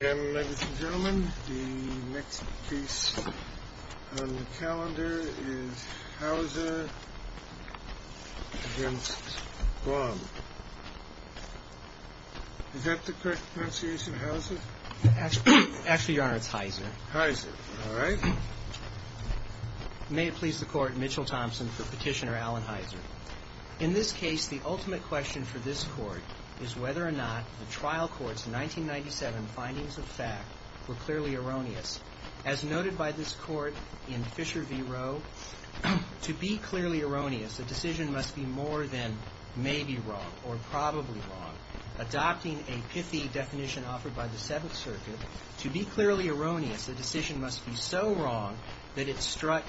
And, ladies and gentlemen, the next piece on the calendar is Hauser v. Guam. Is that the correct pronunciation, Hauser? Actually, Your Honor, it's Heiser. Heiser, all right. May it please the Court, Mitchell Thompson for Petitioner Alan Heiser. In this case, the ultimate question for this Court is whether or not the trial court's 1997 findings of fact were clearly erroneous. As noted by this court in Fisher v. Rowe, to be clearly erroneous, a decision must be more than maybe wrong or probably wrong. Adopting a pithy definition offered by the Seventh Circuit, to be clearly erroneous, the decision must be so wrong that it stinks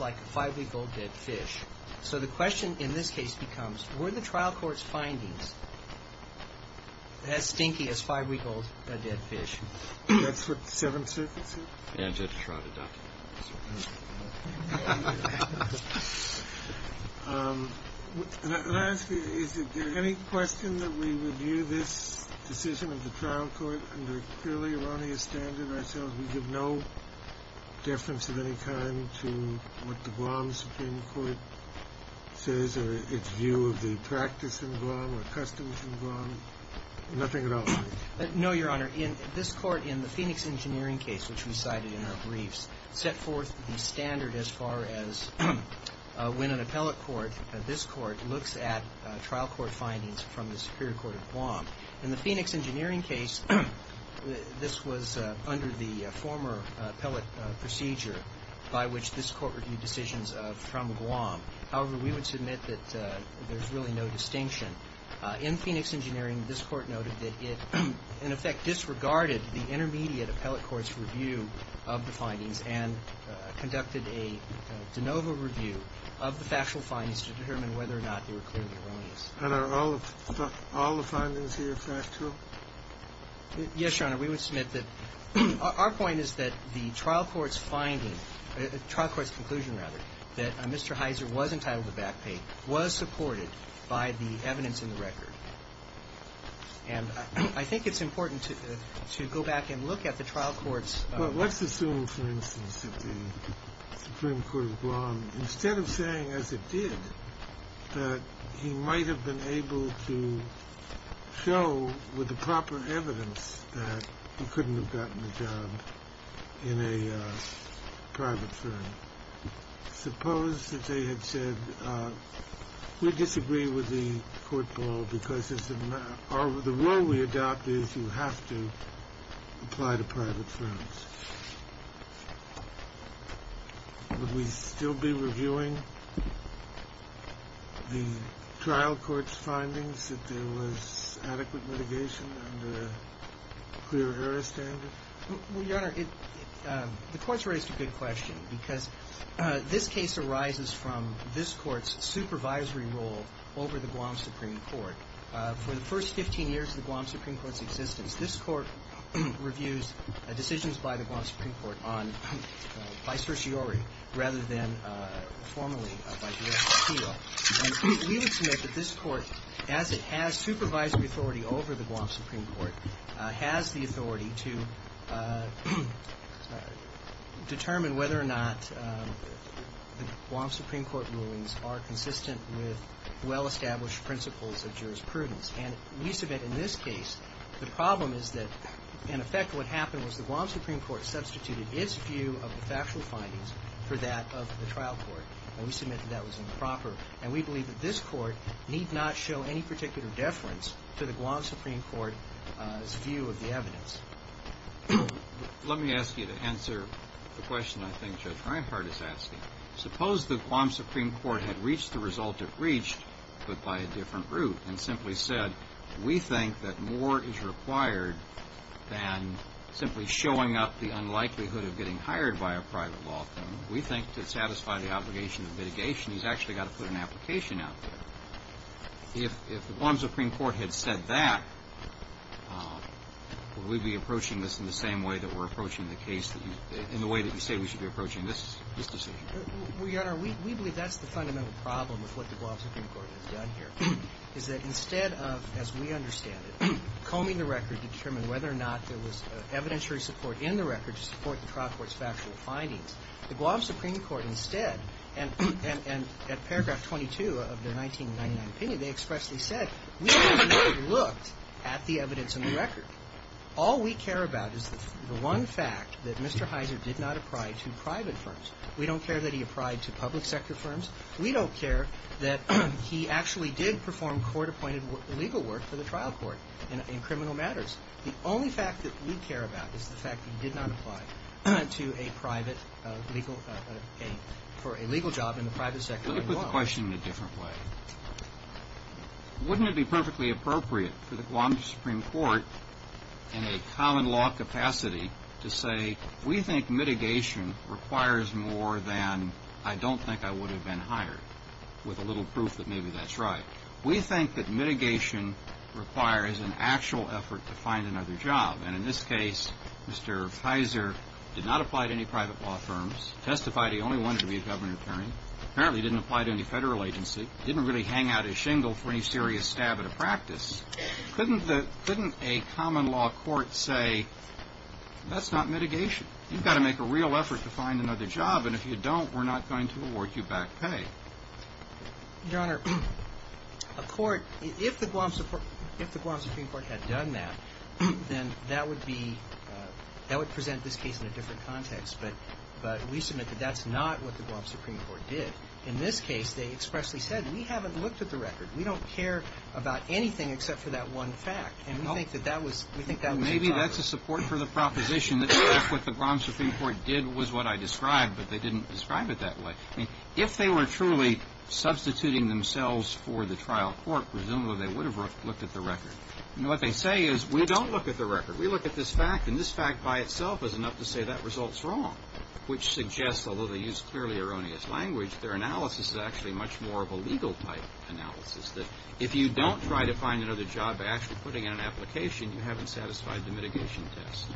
like a five-week-old dead fish. So the question in this case becomes, were the trial court's findings as stinky as five-week-old dead fish? That's what the Seventh Circuit said? And to try to document it. Let me ask you, is there any question that we review this decision of the trial court under a clearly erroneous standard ourselves? We give no deference of any kind to what the Guam Supreme Court says or its view of the practice in Guam or customs in Guam? Nothing at all? No, Your Honor. Your Honor, this Court in the Phoenix Engineering case, which we cited in our briefs, set forth the standard as far as when an appellate court, this Court, looks at trial court findings from the Superior Court of Guam. In the Phoenix Engineering case, this was under the former appellate procedure by which this Court reviewed decisions from Guam. However, we would submit that there's really no distinction. In Phoenix Engineering, this Court noted that it, in effect, disregarded the intermediate appellate court's review of the findings and conducted a de novo review of the factual findings to determine whether or not they were clearly erroneous. And are all the findings here factual? Yes, Your Honor. We would submit that our point is that the trial court's finding, trial court's conclusion, rather, that Mr. Heiser was entitled to back pay, was supported by the evidence in the record. And I think it's important to go back and look at the trial court's... Well, let's assume, for instance, that the Supreme Court of Guam, instead of saying as it did, that he might have been able to show with the proper evidence that he couldn't have gotten a job in a private firm. Suppose that they had said, we disagree with the court ball because the rule we adopt is you have to apply to private firms. Would we still be reviewing the trial court's findings if there was adequate litigation under a clear error standard? Well, Your Honor, the Court's raised a good question because this case arises from this Court's supervisory role over the Guam Supreme Court. For the first 15 years of the Guam Supreme Court's existence, this Court reviews decisions by the Guam Supreme Court on vicerciori rather than formally viceratio. And we would submit that this Court, as it has supervisory authority over the Guam Supreme Court, has the authority to determine whether or not the Guam Supreme Court rulings are consistent with well-established principles of jurisprudence. And we submit in this case the problem is that, in effect, what happened was the Guam Supreme Court substituted its view of the factual findings for that of the trial court. And we submit that that was improper. And we believe that this Court need not show any particular deference to the Guam Supreme Court's view of the evidence. Let me ask you to answer the question I think Judge Reinhart is asking. Suppose the Guam Supreme Court had reached the result it reached but by a different route and simply said, we think that more is required than simply showing up the unlikelihood of getting hired by a private law firm. We think to satisfy the obligation of mitigation, he's actually got to put an application out there. If the Guam Supreme Court had said that, would we be approaching this in the same way that we're approaching the case that you – in the way that you say we should be approaching this decision? Well, Your Honor, we believe that's the fundamental problem with what the Guam Supreme Court has done here, is that instead of, as we understand it, combing the record to determine whether or not there was evidentiary support in the record to support the trial court's factual findings, the Guam Supreme Court instead, and at paragraph 22 of their 1999 opinion, they expressly said, we don't need to be looked at the evidence in the record. All we care about is the one fact that Mr. Heiser did not apply to private firms. We don't care that he applied to public sector firms. We don't care that he actually did perform court-appointed legal work for the trial court in criminal matters. The only fact that we care about is the fact that he did not apply to a private legal – for a legal job in the private sector. Let me put the question in a different way. Wouldn't it be perfectly appropriate for the Guam Supreme Court in a common law capacity to say, we think mitigation requires more than I don't think I would have been hired, with a little proof that maybe that's right. We think that mitigation requires an actual effort to find another job. And in this case, Mr. Heiser did not apply to any private law firms, testified he only wanted to be a government attorney, apparently didn't apply to any federal agency, didn't really hang out his shingle for any serious stab at a practice. Couldn't a common law court say, that's not mitigation. You've got to make a real effort to find another job, and if you don't, we're not going to award you back pay. Your Honor, a court – if the Guam Supreme Court had done that, then that would be – that would present this case in a different context. But we submit that that's not what the Guam Supreme Court did. In this case, they expressly said, we haven't looked at the record. We don't care about anything except for that one fact. And we think that that was entirely – Well, maybe that's a support for the proposition that what the Guam Supreme Court did was what I described, but they didn't describe it that way. I mean, if they were truly substituting themselves for the trial court, presumably they would have looked at the record. You know, what they say is, we don't look at the record. We look at this fact, and this fact by itself is enough to say that result's wrong, which suggests, although they use clearly erroneous language, their analysis is actually much more of a legal type analysis, that if you don't try to find another job by actually putting in an application, you haven't satisfied the mitigation test.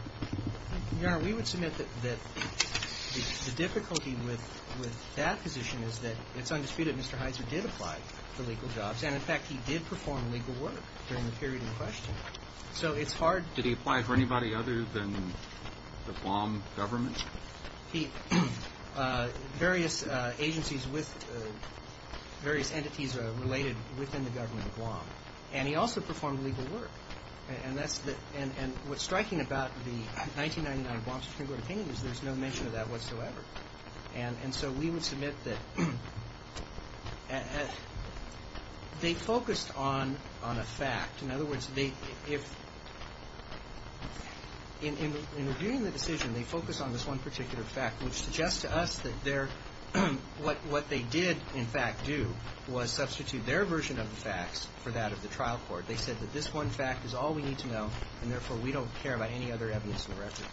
Your Honor, we would submit that the difficulty with that position is that it's undisputed Mr. Heiser did apply for legal jobs. And, in fact, he did perform legal work during the period in question. So it's hard – Did he apply for anybody other than the Guam government? He – various agencies with – various entities related within the government of Guam. And he also performed legal work. And that's the – and what's striking about the 1999 Guam Supreme Court opinion is there's no mention of that whatsoever. And so we would submit that they focused on a fact. In other words, they – if – in reviewing the decision, they focused on this one particular fact, which suggests to us that their – what they did, in fact, do was substitute their version of the facts for that of the trial court. They said that this one fact is all we need to know, and, therefore, we don't care about any other evidence in the record.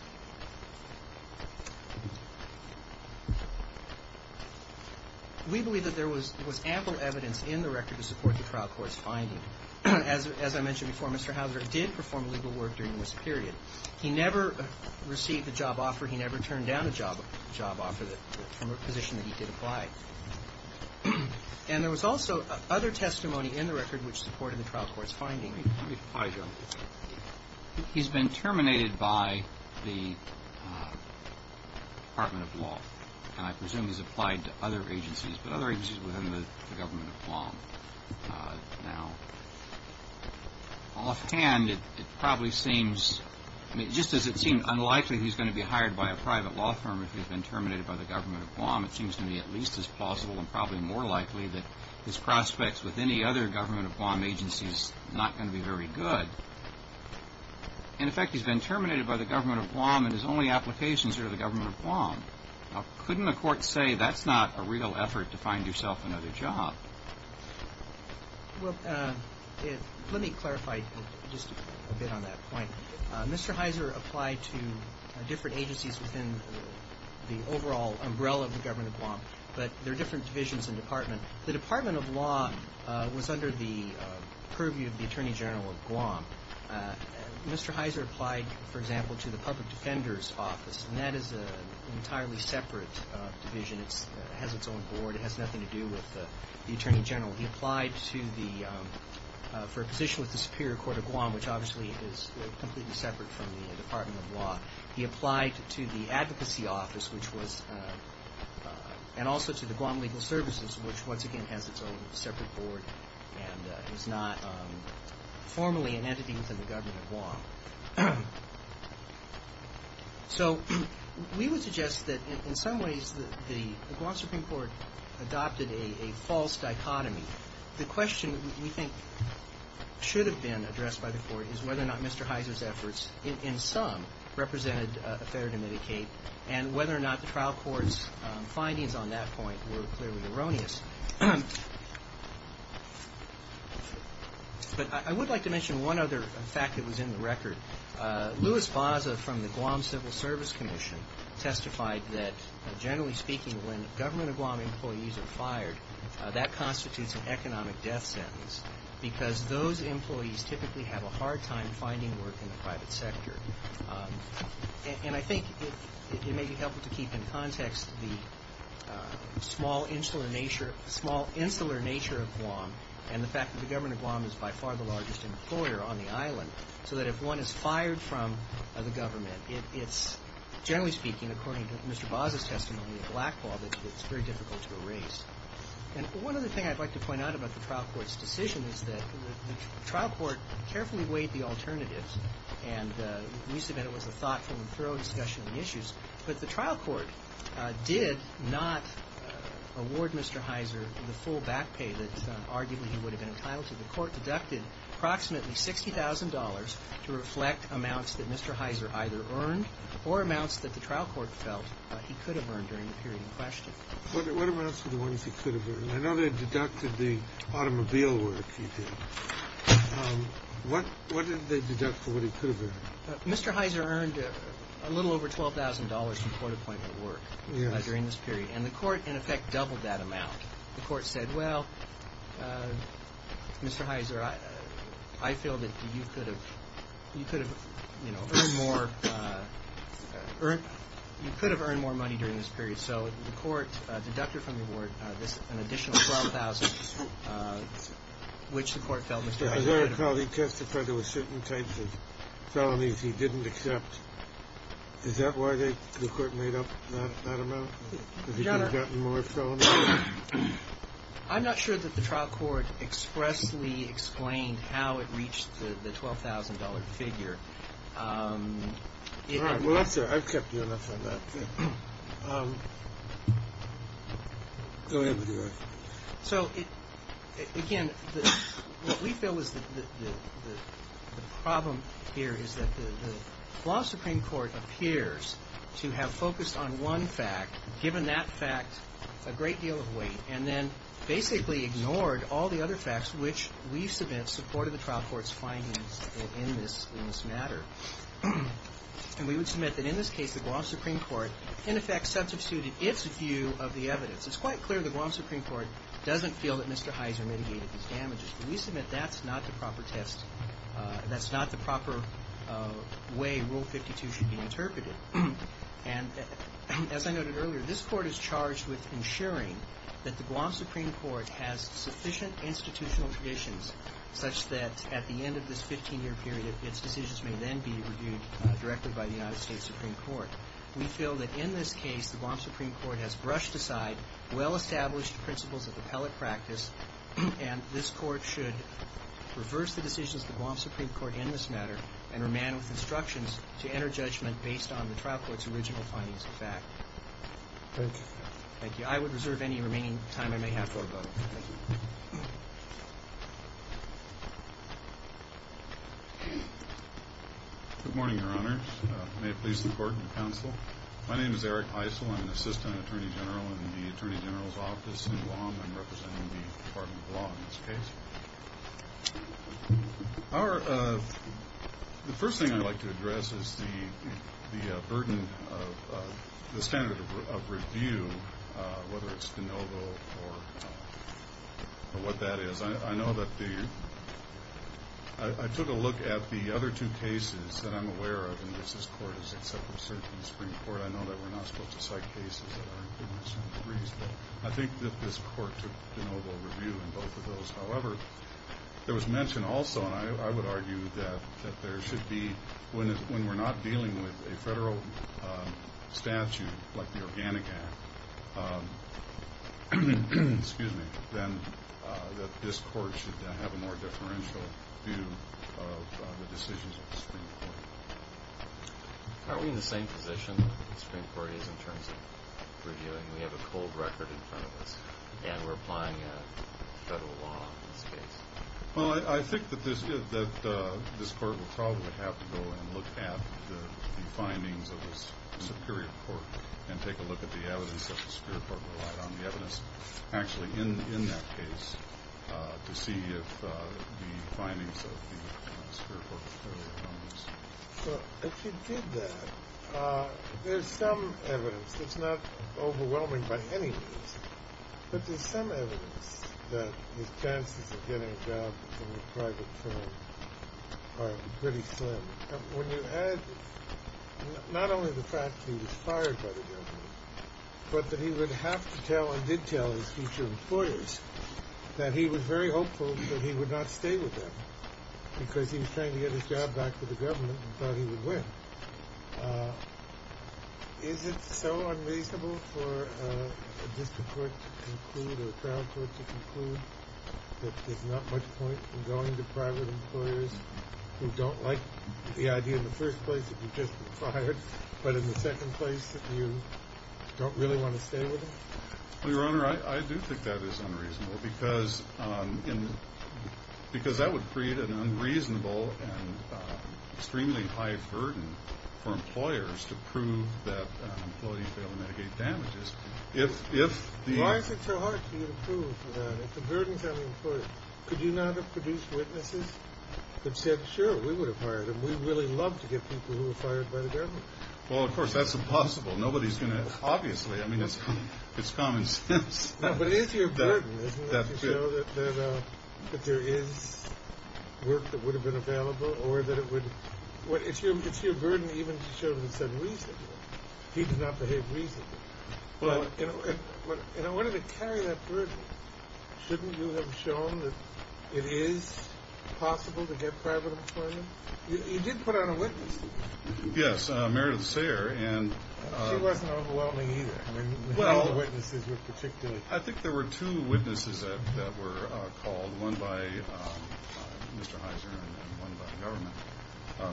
We believe that there was ample evidence in the record to support the trial court's finding. As I mentioned before, Mr. Heiser did perform legal work during this period. He never received a job offer. He never turned down a job offer from a position that he did apply. And there was also other testimony in the record which supported the trial court's finding. Let me – let me apply here. He's been terminated by the Department of Law. And I presume he's applied to other agencies, but other agencies within the government of Guam now. Offhand, it probably seems – I mean, just as it seems unlikely he's going to be hired by a private law firm if he's been terminated by the government of Guam, it seems to me at least as plausible and probably more likely that his prospects with any other government of Guam agency is not going to be very good. In effect, he's been terminated by the government of Guam, and his only applications are to the government of Guam. Now, couldn't a court say that's not a real effort to find yourself another job? Well, let me clarify just a bit on that point. Mr. Heiser applied to different agencies within the overall umbrella of the government of Guam, but there are different divisions and departments. The Department of Law was under the purview of the Attorney General of Guam. Mr. Heiser applied, for example, to the Public Defender's Office, and that is an entirely separate division. It has its own board. It has nothing to do with the Attorney General. He applied for a position with the Superior Court of Guam, which obviously is completely separate from the Department of Law. He applied to the Advocacy Office and also to the Guam Legal Services, which once again has its own separate board and is not formally an entity within the government of Guam. So we would suggest that in some ways the Guam Supreme Court adopted a false dichotomy. The question we think should have been addressed by the Court is whether or not Mr. Heiser's efforts in some represented a failure to mitigate and whether or not the trial court's findings on that point were clearly erroneous. But I would like to mention one other fact that was in the record. Louis Baza from the Guam Civil Service Commission testified that, generally speaking, when government of Guam employees are fired, that constitutes an economic death sentence because those employees typically have a hard time finding work in the private sector. And I think it may be helpful to keep in context the small, insular nature of Guam and the fact that the government of Guam is by far the largest employer on the island, so that if one is fired from the government, it's generally speaking, according to Mr. Baza's testimony, a black ball that's very difficult to erase. And one other thing I'd like to point out about the trial court's decision is that the trial court carefully weighed the alternatives, and we submit it was a thoughtful and thorough discussion of the issues, but the trial court did not award Mr. Heiser the full back pay that arguably he would have been entitled to. The court deducted approximately $60,000 to reflect amounts that Mr. Heiser either earned or amounts that the trial court felt he could have earned during the period in question. What amounts were the ones he could have earned? I know they deducted the automobile work he did. What did they deduct for what he could have earned? Mr. Heiser earned a little over $12,000 from court appointment work during this period, and the court, in effect, doubled that amount. The court said, well, Mr. Heiser, I feel that you could have earned more money during this period, so the court deducted from the award an additional $12,000, which the court felt Mr. Heiser could have earned. As I recall, he testified there were certain types of felonies he didn't accept. Is that why the court made up that amount? Because he could have gotten more felonies? I'm not sure that the trial court expressly explained how it reached the $12,000 figure. All right. Well, that's all right. I've kept you enough on that. Go ahead with your answer. So, again, what we feel is the problem here is that the law supreme court appears to have focused on one fact, given that fact a great deal of weight, and then basically ignored all the other facts which we submit supported the trial court's findings in this matter. And we would submit that, in this case, the Guam supreme court, in effect, substituted its view of the evidence. It's quite clear the Guam supreme court doesn't feel that Mr. Heiser mitigated these damages, but we submit that's not the proper test. And as I noted earlier, this court is charged with ensuring that the Guam supreme court has sufficient institutional traditions such that, at the end of this 15-year period, its decisions may then be reviewed directly by the United States supreme court. We feel that, in this case, the Guam supreme court has brushed aside well-established principles of appellate practice, and this court should reverse the decisions of the Guam supreme court in this matter and remain with instructions to enter judgment based on the trial court's original findings of fact. Thank you. Thank you. I would reserve any remaining time I may have for a vote. Thank you. Good morning, Your Honors. May it please the Court and the Counsel. My name is Eric Heisel. I'm an assistant attorney general in the Attorney General's Office in Guam. I'm representing the Department of Law in this case. The first thing I'd like to address is the burden of the standard of review, whether it's de novo or what that is. I know that the ñ I took a look at the other two cases that I'm aware of, and this court has accepted cert in the supreme court. I know that we're not supposed to cite cases that aren't in the supreme court. I think that this court took de novo review in both of those. However, there was mention also, and I would argue that there should be, when we're not dealing with a federal statute like the Organic Act, then this court should have a more differential view of the decisions of the supreme court. Aren't we in the same position the supreme court is in terms of reviewing? We have a cold record in front of us, and we're applying a federal law in this case. Well, I think that this court will probably have to go and look at the findings of the superior court and take a look at the evidence that the superior court relied on, the evidence actually in that case, to see if the findings of the superior court are fairly balanced. Well, if you did that, there's some evidence that's not overwhelming by any means, but there's some evidence that his chances of getting a job in the private firm are pretty slim. When you add not only the fact that he was fired by the government, but that he would have to tell and did tell his future employers that he was very hopeful that he would not stay with them because he was trying to get his job back to the government and thought he would win, is it so unreasonable for a district court to conclude or a trial court to conclude that there's not much point in going to private employers who don't like the idea in the first place that you've just been fired, but in the second place that you don't really want to stay with them? Well, Your Honor, I do think that is unreasonable because that would create an unreasonable and extremely high burden for employers to prove that an employee failed to mitigate damages. Why is it so hard for you to prove that if the burden is on the employer? Could you not have produced witnesses that said, sure, we would have hired him, we'd really love to get people who were fired by the government? Well, of course, that's impossible. Nobody's going to, obviously, I mean, it's common sense. But it is your burden, isn't it, to show that there is work that would have been available or that it would, it's your burden even to show that it's unreasonable. He did not behave reasonably. And I wanted to carry that burden. Shouldn't you have shown that it is possible to get private employment? You did put on a witness. Yes, Meredith Sayer. She wasn't overwhelming either. I mean, who were the witnesses in particular? I think there were two witnesses that were called, one by Mr. Heiser and one by the government.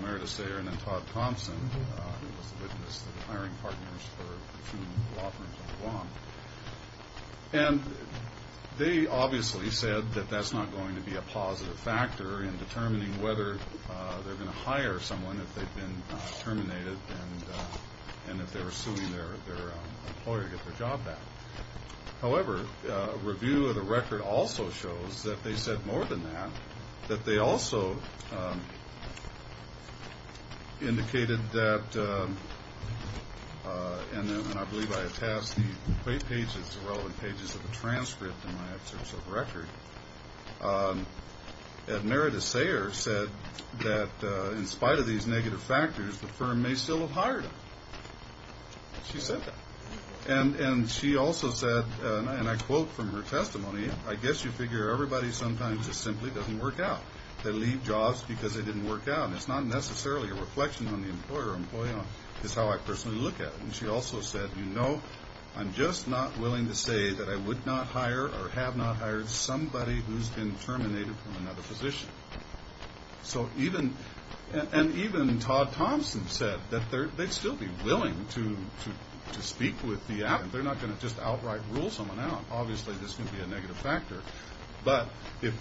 Meredith Sayer and then Todd Thompson, who was the witness that was hiring partners for a few law firms in the Guam. And they obviously said that that's not going to be a positive factor in determining whether they're going to hire someone if they've been terminated and if they're suing their employer to get their job back. However, a review of the record also shows that they said more than that, that they also indicated that, and I believe I have passed the play pages, the relevant pages of the transcript in my excerpts of the record, that Meredith Sayer said that in spite of these negative factors, the firm may still have hired them. She said that. And she also said, and I quote from her testimony, I guess you figure everybody sometimes just simply doesn't work out. They leave jobs because they didn't work out. And it's not necessarily a reflection on the employer or employee. It's how I personally look at it. And she also said, you know, I'm just not willing to say that I would not hire or have not hired somebody who's been terminated from another position. And even Todd Thompson said that they'd still be willing to speak with the app. They're not going to just outright rule someone out. Obviously this can be a negative factor. But if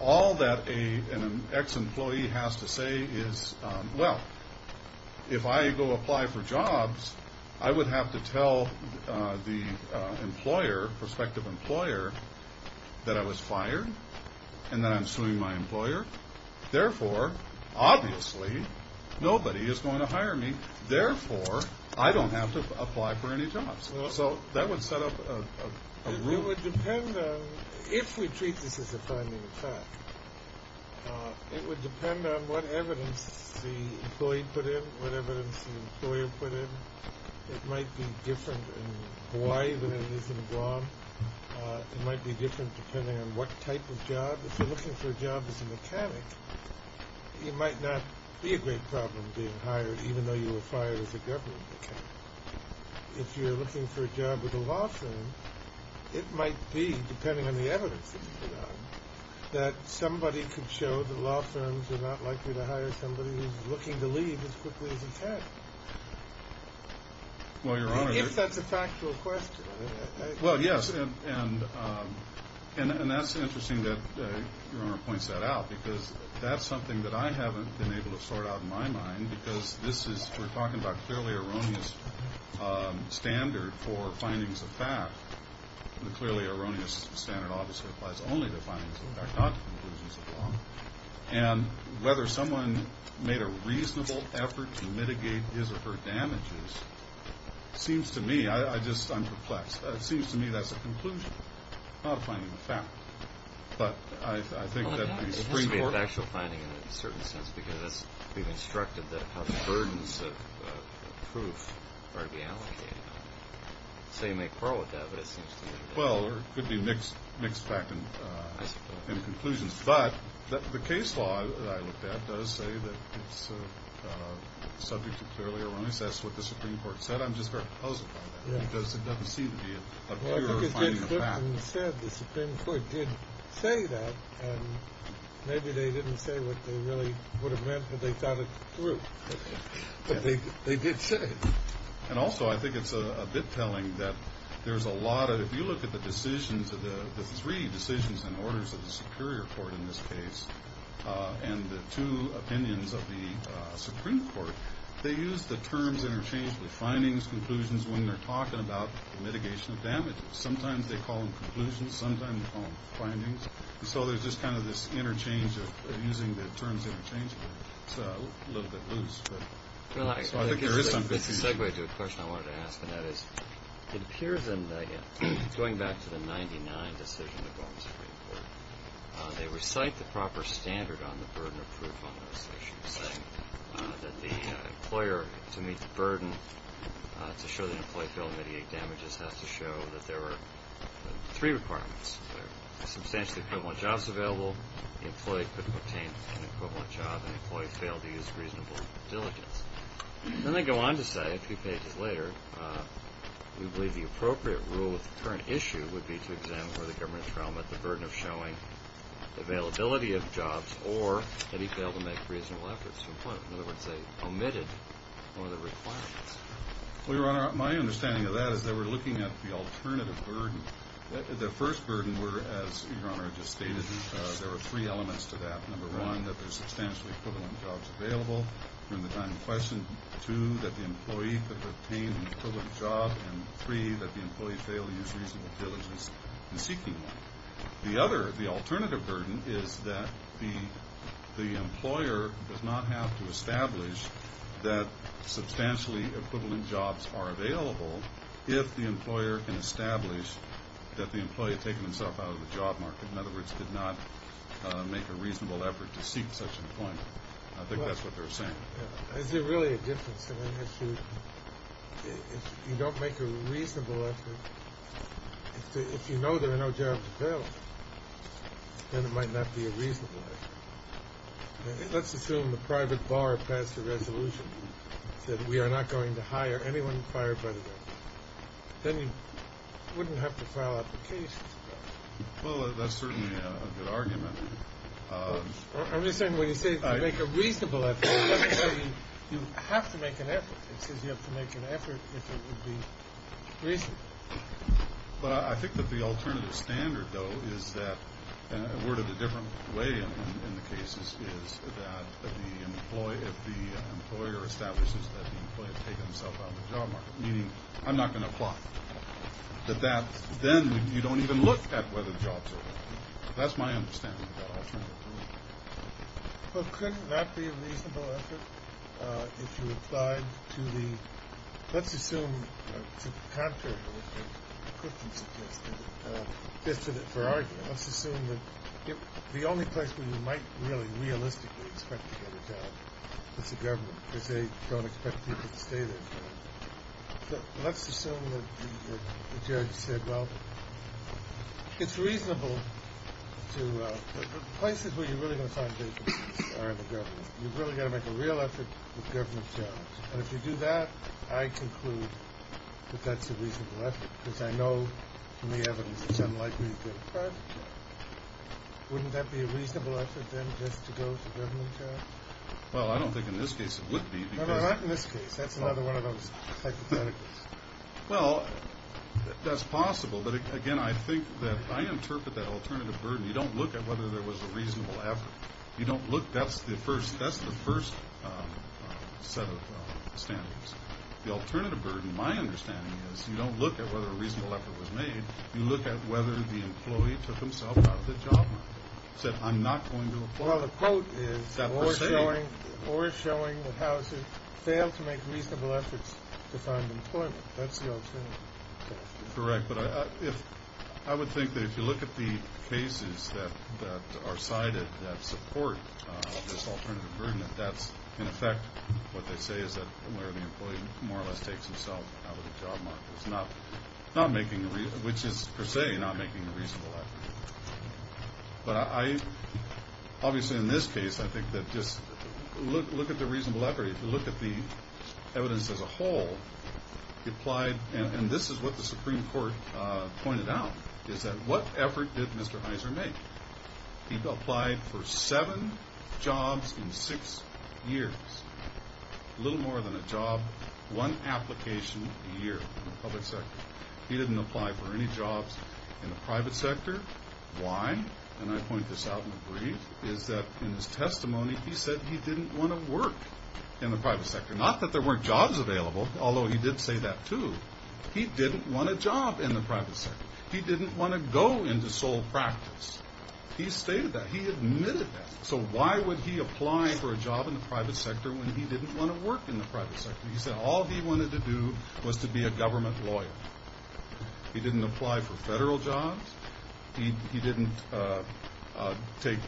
all that an ex-employee has to say is, well, if I go apply for jobs, I would have to tell the employer, prospective employer, that I was fired and that I'm suing my employer. Therefore, obviously, nobody is going to hire me. Therefore, I don't have to apply for any jobs. So that would set up a rule. It would depend on if we treat this as a priming attack. It would depend on what evidence the employee put in, what evidence the employer put in. It might be different in Hawaii than it is in Guam. It might be different depending on what type of job. If you're looking for a job as a mechanic, you might not be a great problem being hired even though you were fired as a government mechanic. If you're looking for a job with a law firm, it might be, depending on the evidence that you put on, that somebody could show that law firms are not likely to hire somebody who's looking to leave as quickly as he can. If that's a factual question. Well, yes, and that's interesting that Your Honor points that out because that's something that I haven't been able to sort out in my mind because we're talking about clearly erroneous standard for findings of fact. The clearly erroneous standard obviously applies only to findings of fact, not to conclusions of law. And whether someone made a reasonable effort to mitigate his or her damages seems to me, I'm perplexed, seems to me that's a conclusion, not a finding of fact. But I think that the Supreme Court... Well, it has to be a factual finding in a certain sense because we've instructed that how the burdens of proof are to be allocated. So you may quarrel with that, but it seems to me... Well, it could be mixed fact and conclusions. But the case law that I looked at does say that it's subject to clearly erroneous. That's what the Supreme Court said. I'm just very puzzled by that because it doesn't seem to be a clear finding of fact. Well, the Supreme Court did say that, and maybe they didn't say what they really would have meant when they thought it through. But they did say it. And also I think it's a bit telling that there's a lot of... If you look at the decisions, the three decisions and orders of the Superior Court in this case and the two opinions of the Supreme Court, they use the terms interchangeably, findings, conclusions, when they're talking about mitigation of damages. Sometimes they call them conclusions. Sometimes they call them findings. And so there's just kind of this interchange of using the terms interchangeably. It's a little bit loose, but I think there is some confusion. This is a segue to a question I wanted to ask, and that is it appears in the, going back to the 1999 decision of the Baltimore Supreme Court, they recite the proper standard on the burden of proof on those issues, saying that the employer, to meet the burden, to show that an employee failed to mediate damages, has to show that there were three requirements. Substantially equivalent jobs available, the employee couldn't obtain an equivalent job, and the employee failed to use reasonable diligence. Then they go on to say, a few pages later, we believe the appropriate rule of the current issue would be to examine whether the government has found that the burden of showing availability of jobs or that he failed to make reasonable efforts to employ them. In other words, they omitted one of the requirements. Well, Your Honor, my understanding of that is that we're looking at the alternative burden. The first burden were, as Your Honor just stated, there were three elements to that. Number one, that there's substantially equivalent jobs available during the time in question. Two, that the employee could obtain an equivalent job. And three, that the employee failed to use reasonable diligence in seeking one. The other, the alternative burden, is that the employer does not have to establish that substantially equivalent jobs are available if the employer can establish that the employee had taken himself out of the job market. In other words, did not make a reasonable effort to seek such employment. I think that's what they're saying. Is there really a difference in that issue? If you don't make a reasonable effort, if you know there are no jobs available, then it might not be a reasonable effort. Let's assume the private bar passed a resolution that we are not going to hire anyone fired by the government. Then you wouldn't have to file applications for that. Well, that's certainly a good argument. I'm just saying when you say you make a reasonable effort, it doesn't say you have to make an effort. It says you have to make an effort if it would be reasonable. But I think that the alternative standard, though, is that, a word of a different way in the cases, is that if the employer establishes that the employee had taken himself out of the job market, meaning I'm not going to apply, that then you don't even look at whether the jobs are available. That's my understanding of that alternative standard. Well, couldn't that be a reasonable effort if you applied to the— let's assume, to the contrary of what Christian suggested, just for argument, let's assume that the only place where you might really realistically expect to get a job is the government because they don't expect people to stay there forever. Let's assume that the judge said, Well, it's reasonable to— the places where you're really going to find vacancies are the government. You've really got to make a real effort with government jobs. And if you do that, I conclude that that's a reasonable effort because I know from the evidence it's unlikely you get a private job. Wouldn't that be a reasonable effort, then, just to go to government jobs? Well, I don't think in this case it would be because— No, no, not in this case. That's another one of those hypotheticals. Well, that's possible. But, again, I think that—I interpret that alternative burden. You don't look at whether there was a reasonable effort. You don't look—that's the first set of standards. The alternative burden, my understanding is, you don't look at whether a reasonable effort was made. You look at whether the employee took himself out of the job market, Well, the quote is— That per se. failed to make reasonable efforts to find employment. That's the alternative. Correct. But I would think that if you look at the cases that are cited that support this alternative burden, that that's, in effect, what they say is that where the employee more or less takes himself out of the job market, which is, per se, not making a reasonable effort. But I—obviously, in this case, I think that just look at the reasonable effort. If you look at the evidence as a whole, he applied, and this is what the Supreme Court pointed out, is that what effort did Mr. Heiser make? He applied for seven jobs in six years. A little more than a job, one application a year in the public sector. He didn't apply for any jobs in the private sector. Why? And I point this out in a brief, is that in his testimony, he said he didn't want to work in the private sector. Not that there weren't jobs available, although he did say that, too. He didn't want a job in the private sector. He didn't want to go into sole practice. He stated that. He admitted that. So why would he apply for a job in the private sector when he didn't want to work in the private sector? He said all he wanted to do was to be a government lawyer. He didn't apply for federal jobs. He didn't take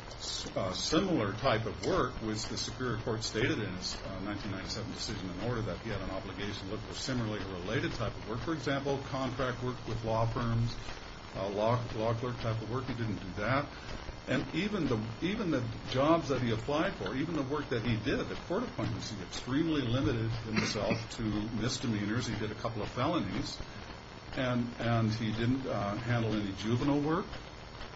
similar type of work, which the Superior Court stated in its 1997 decision in order that he had an obligation to look for similarly related type of work, for example, contract work with law firms, law clerk type of work. He didn't do that. And even the jobs that he applied for, even the work that he did, the court appointments, he extremely limited himself to misdemeanors. He did a couple of felonies. And he didn't handle any juvenile work.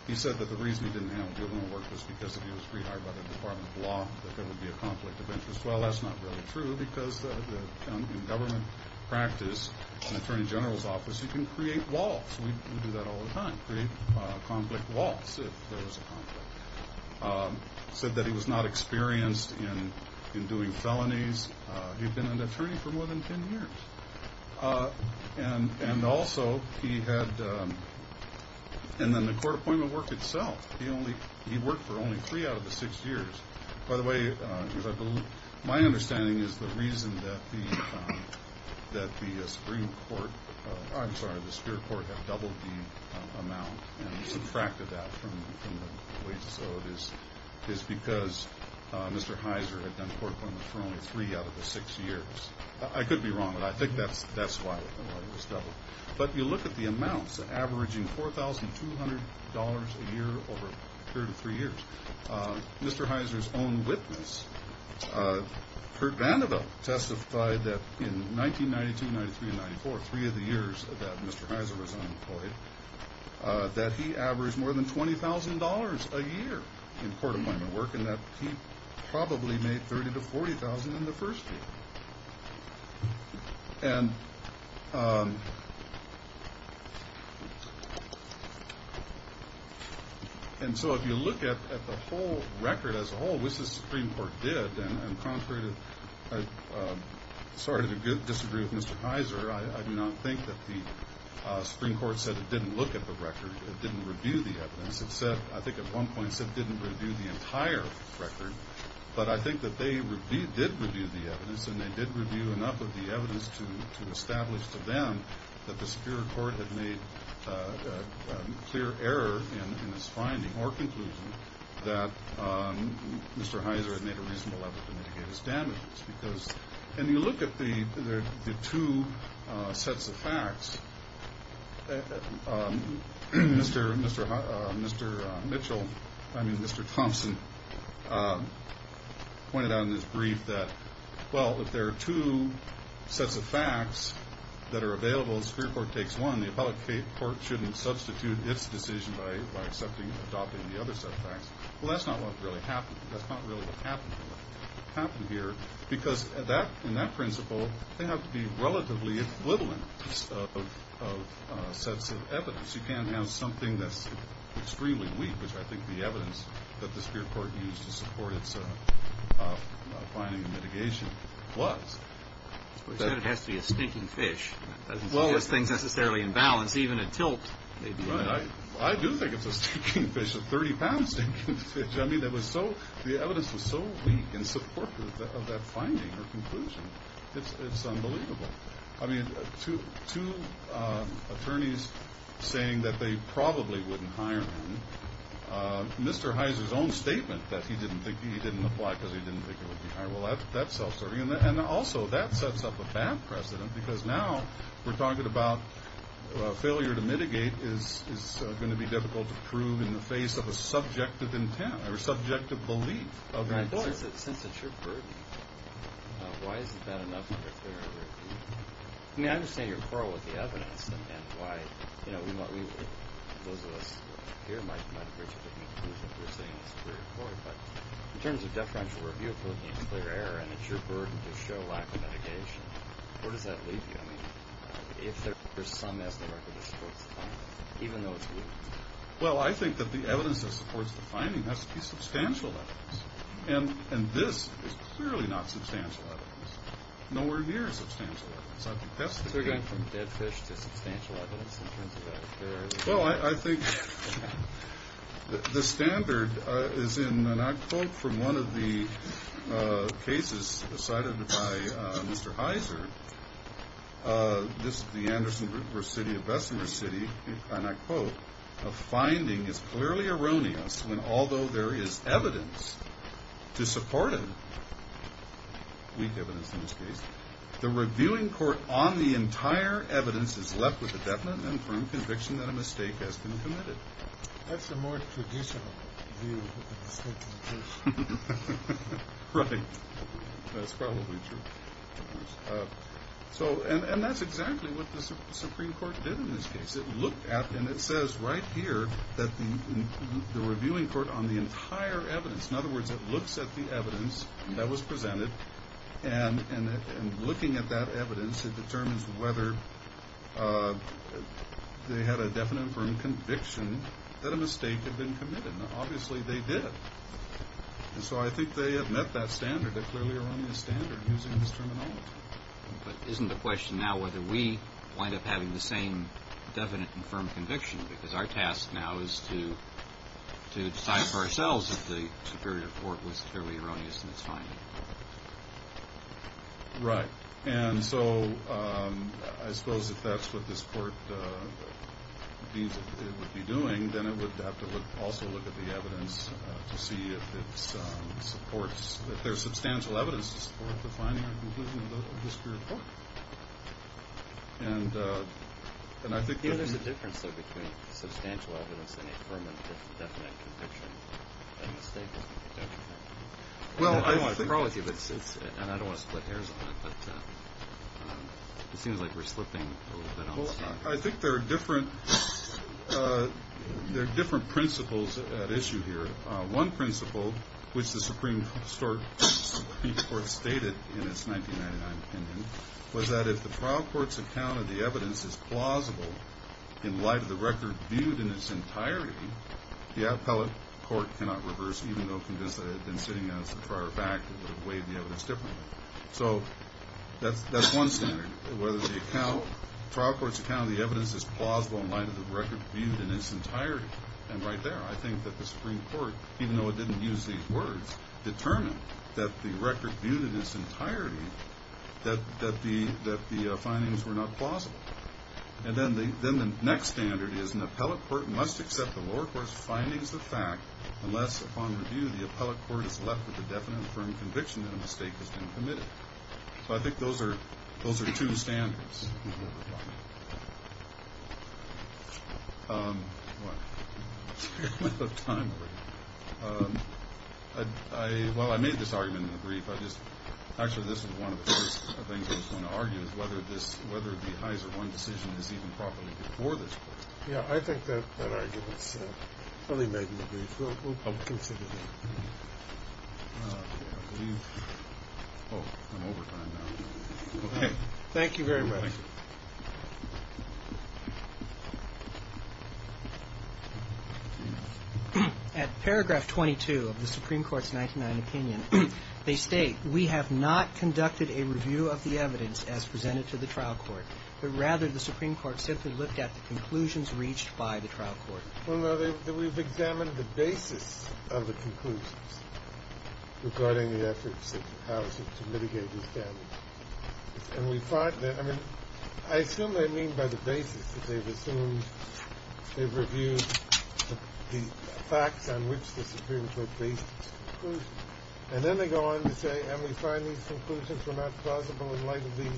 He said that the reason he didn't handle juvenile work was because if he was rehired by the Department of Law, that there would be a conflict of interest. Well, that's not really true, because in government practice, an attorney general's office, you can create walls. We do that all the time, create conflict walls if there is a conflict. He said that he was not experienced in doing felonies. He had been an attorney for more than ten years. And also he had the court appointment work itself. He worked for only three out of the six years. By the way, my understanding is the reason that the Supreme Court, I'm sorry, the Superior Court had doubled the amount and subtracted that from the wages. So it is because Mr. Heiser had done court appointments for only three out of the six years. I could be wrong, but I think that's why it was doubled. But you look at the amounts, averaging $4,200 a year over a period of three years. Mr. Heiser's own witness, Kurt Vanderveld, testified that in 1992, 1993, and 1994, three of the years that Mr. Heiser was unemployed, that he averaged more than $20,000 a year in court appointment work and that he probably made $30,000 to $40,000 in the first year. And so if you look at the whole record as a whole, which the Supreme Court did, and I'm sorry to disagree with Mr. Heiser, I do not think that the Supreme Court said it didn't look at the record. It didn't review the evidence. I think at one point it said it didn't review the entire record. But I think that they did review the evidence, and they did review enough of the evidence to establish to them that the Superior Court had made a clear error in its finding or conclusion that Mr. Heiser had made a reasonable effort to mitigate his damages. And you look at the two sets of facts. Mr. Thompson pointed out in his brief that, well, if there are two sets of facts that are available, and the Superior Court takes one, the Appellate Court shouldn't substitute its decision by adopting the other set of facts. Well, that's not what really happened. That's not really what happened here, because in that principle they have to be relatively oblivious of sets of evidence. You can't have something that's extremely weak, which I think the evidence that the Superior Court used to support its finding and mitigation was. But it has to be a stinking fish. Well, it's not necessarily in balance. Even a tilt. I do think it's a stinking fish, a 30-pound stinking fish. I mean, the evidence was so weak in support of that finding or conclusion. It's unbelievable. I mean, two attorneys saying that they probably wouldn't hire him. Mr. Heiser's own statement that he didn't apply because he didn't think he would be hired. Well, that's self-serving. And also that sets up a bad precedent, because now we're talking about failure to mitigate is going to be difficult to prove in the face of a subjective intent or subjective belief of an attorney. Since it's your verdict, why is it bad enough under the Superior Court? I mean, I understand your quarrel with the evidence and why, you know, those of us here might agree with you, but in terms of deferential review, if we're looking at a clear error and it's your burden to show lack of mitigation, where does that leave you? I mean, if there's some estimate that supports the finding, even though it's weak. Well, I think that the evidence that supports the finding has to be substantial evidence. And this is clearly not substantial evidence. Nowhere near substantial evidence. So we're going from dead fish to substantial evidence in terms of that clear error? Well, I think the standard is in, and I quote from one of the cases cited by Mr. Heiser, this is the Anderson versus City of Bessemer City, and I quote, a finding is clearly erroneous when although there is evidence to support it, weak evidence in this case, the reviewing court on the entire evidence is left with a definite and firm conviction that a mistake has been committed. That's a more traditional view of the state of the case. Right. That's probably true. And that's exactly what the Supreme Court did in this case. It looked at, and it says right here that the reviewing court on the entire evidence, in other words, it looks at the evidence that was presented and looking at that evidence, it determines whether they had a definite and firm conviction that a mistake had been committed. Now, obviously, they did. And so I think they have met that standard, that clearly erroneous standard, using this terminology. But isn't the question now whether we wind up having the same definite and firm conviction? Because our task now is to decide for ourselves if the Superior Court was clearly erroneous in its finding. Right. And so I suppose if that's what this court would be doing, then it would have to also look at the evidence to see if it supports, if there's substantial evidence to support the finding of the Superior Court. And I think there's a difference between substantial evidence and a firm and definite conviction. Well, I don't want to quarrel with you, and I don't want to split hairs on that, but it seems like we're slipping a little bit on the same. I think there are different principles at issue here. One principle, which the Supreme Court stated in its 1999 opinion, was that if the trial court's account of the evidence is plausible in light of the record viewed in its entirety, the appellate court cannot reverse, even though convinced that it had been sitting as a prior fact, it would have weighed the evidence differently. So that's one standard, whether the trial court's account of the evidence is plausible in light of the record viewed in its entirety. And right there, I think that the Supreme Court, even though it didn't use these words, determined that the record viewed in its entirety, that the findings were not plausible. And then the next standard is an appellate court must accept the lower court's findings of fact unless upon review the appellate court is left with a definite and firm conviction that a mistake has been committed. So I think those are two standards. Well, I made this argument in the brief. Actually, this was one of the first things I was going to argue, is whether the Heiser 1 decision is even properly before this point. Yeah, I think that argument is fully made in the brief. We'll consider that. I'm over time now. Okay. Thank you very much. Thank you. At paragraph 22 of the Supreme Court's 1999 opinion, they state, we have not conducted a review of the evidence as presented to the trial court, but rather the Supreme Court simply looked at the conclusions reached by the trial court. Well, no, we've examined the basis of the conclusions regarding the efforts of the House to mitigate these damages. And we find that, I mean, I assume they mean by the basis that they've assumed they've reviewed the facts on which the Supreme Court based its conclusions. And then they go on to say, and we find these conclusions were not plausible in light of the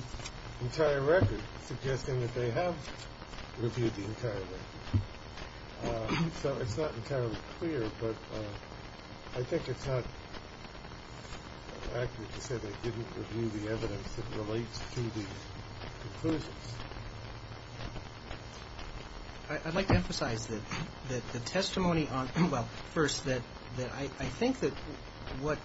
entire record, suggesting that they have reviewed the entire record. So it's not entirely clear, but I think it's not accurate to say they didn't review the evidence that relates to the conclusions. I'd like to emphasize that the testimony on – well, first, that I think that what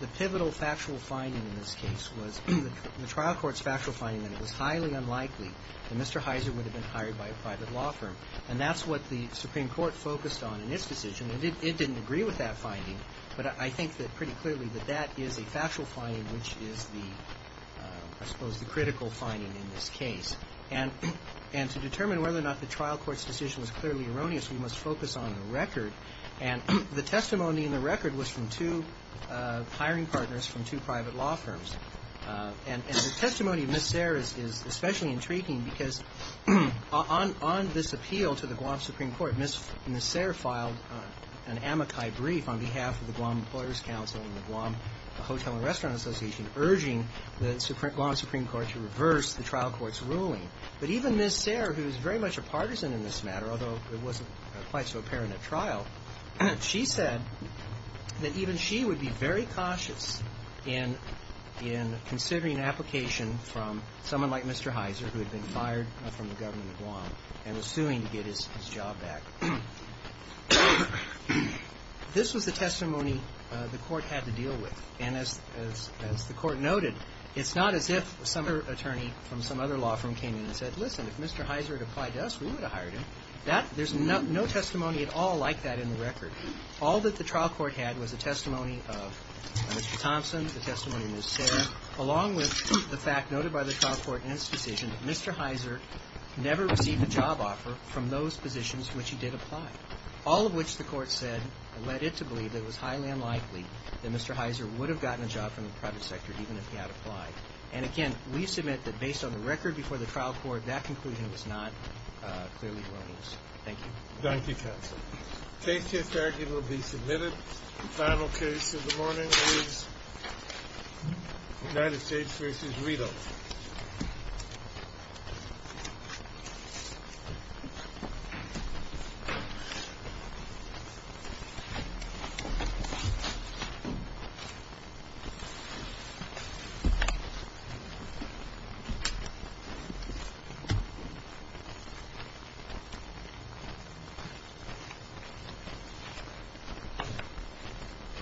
the pivotal factual finding in this case was, the trial court's factual finding that it was highly unlikely that Mr. Heiser would have been hired by a private law firm. And that's what the Supreme Court focused on in its decision. It didn't agree with that finding, but I think that pretty clearly that that is a factual finding which is the, I suppose, the critical finding in this case. And to determine whether or not the trial court's decision was clearly erroneous, we must focus on the record. And the testimony in the record was from two hiring partners from two private law firms. And the testimony of Ms. Sayre is especially intriguing because on this appeal to the Guam Supreme Court, Ms. Sayre filed an amici brief on behalf of the Guam Employers Council and the Guam Hotel and Restaurant Association, urging the Guam Supreme Court to reverse the trial court's ruling. But even Ms. Sayre, who is very much a partisan in this matter, although it wasn't quite so apparent at trial, she said that even she would be very cautious in considering an application from someone like Mr. Heiser who had been fired from the government of Guam and was suing to get his job back. This was the testimony the court had to deal with. And as the court noted, it's not as if some other attorney from some other law firm came in and said, listen, if Mr. Heiser had applied to us, we would have hired him. There's no testimony at all like that in the record. All that the trial court had was a testimony of Mr. Thompson, the testimony of Ms. Sayre, along with the fact noted by the trial court in its decision that Mr. Heiser never received a job offer from those positions which he did apply, all of which the court said led it to believe that it was highly unlikely that Mr. Heiser would have gotten a job from the private sector even if he had applied. And again, we submit that based on the record before the trial court, that conclusion was not clearly wrong. Thank you. Thank you, counsel. Case to historically will be submitted. The final case of the morning is United States v. Rideau. Thank you.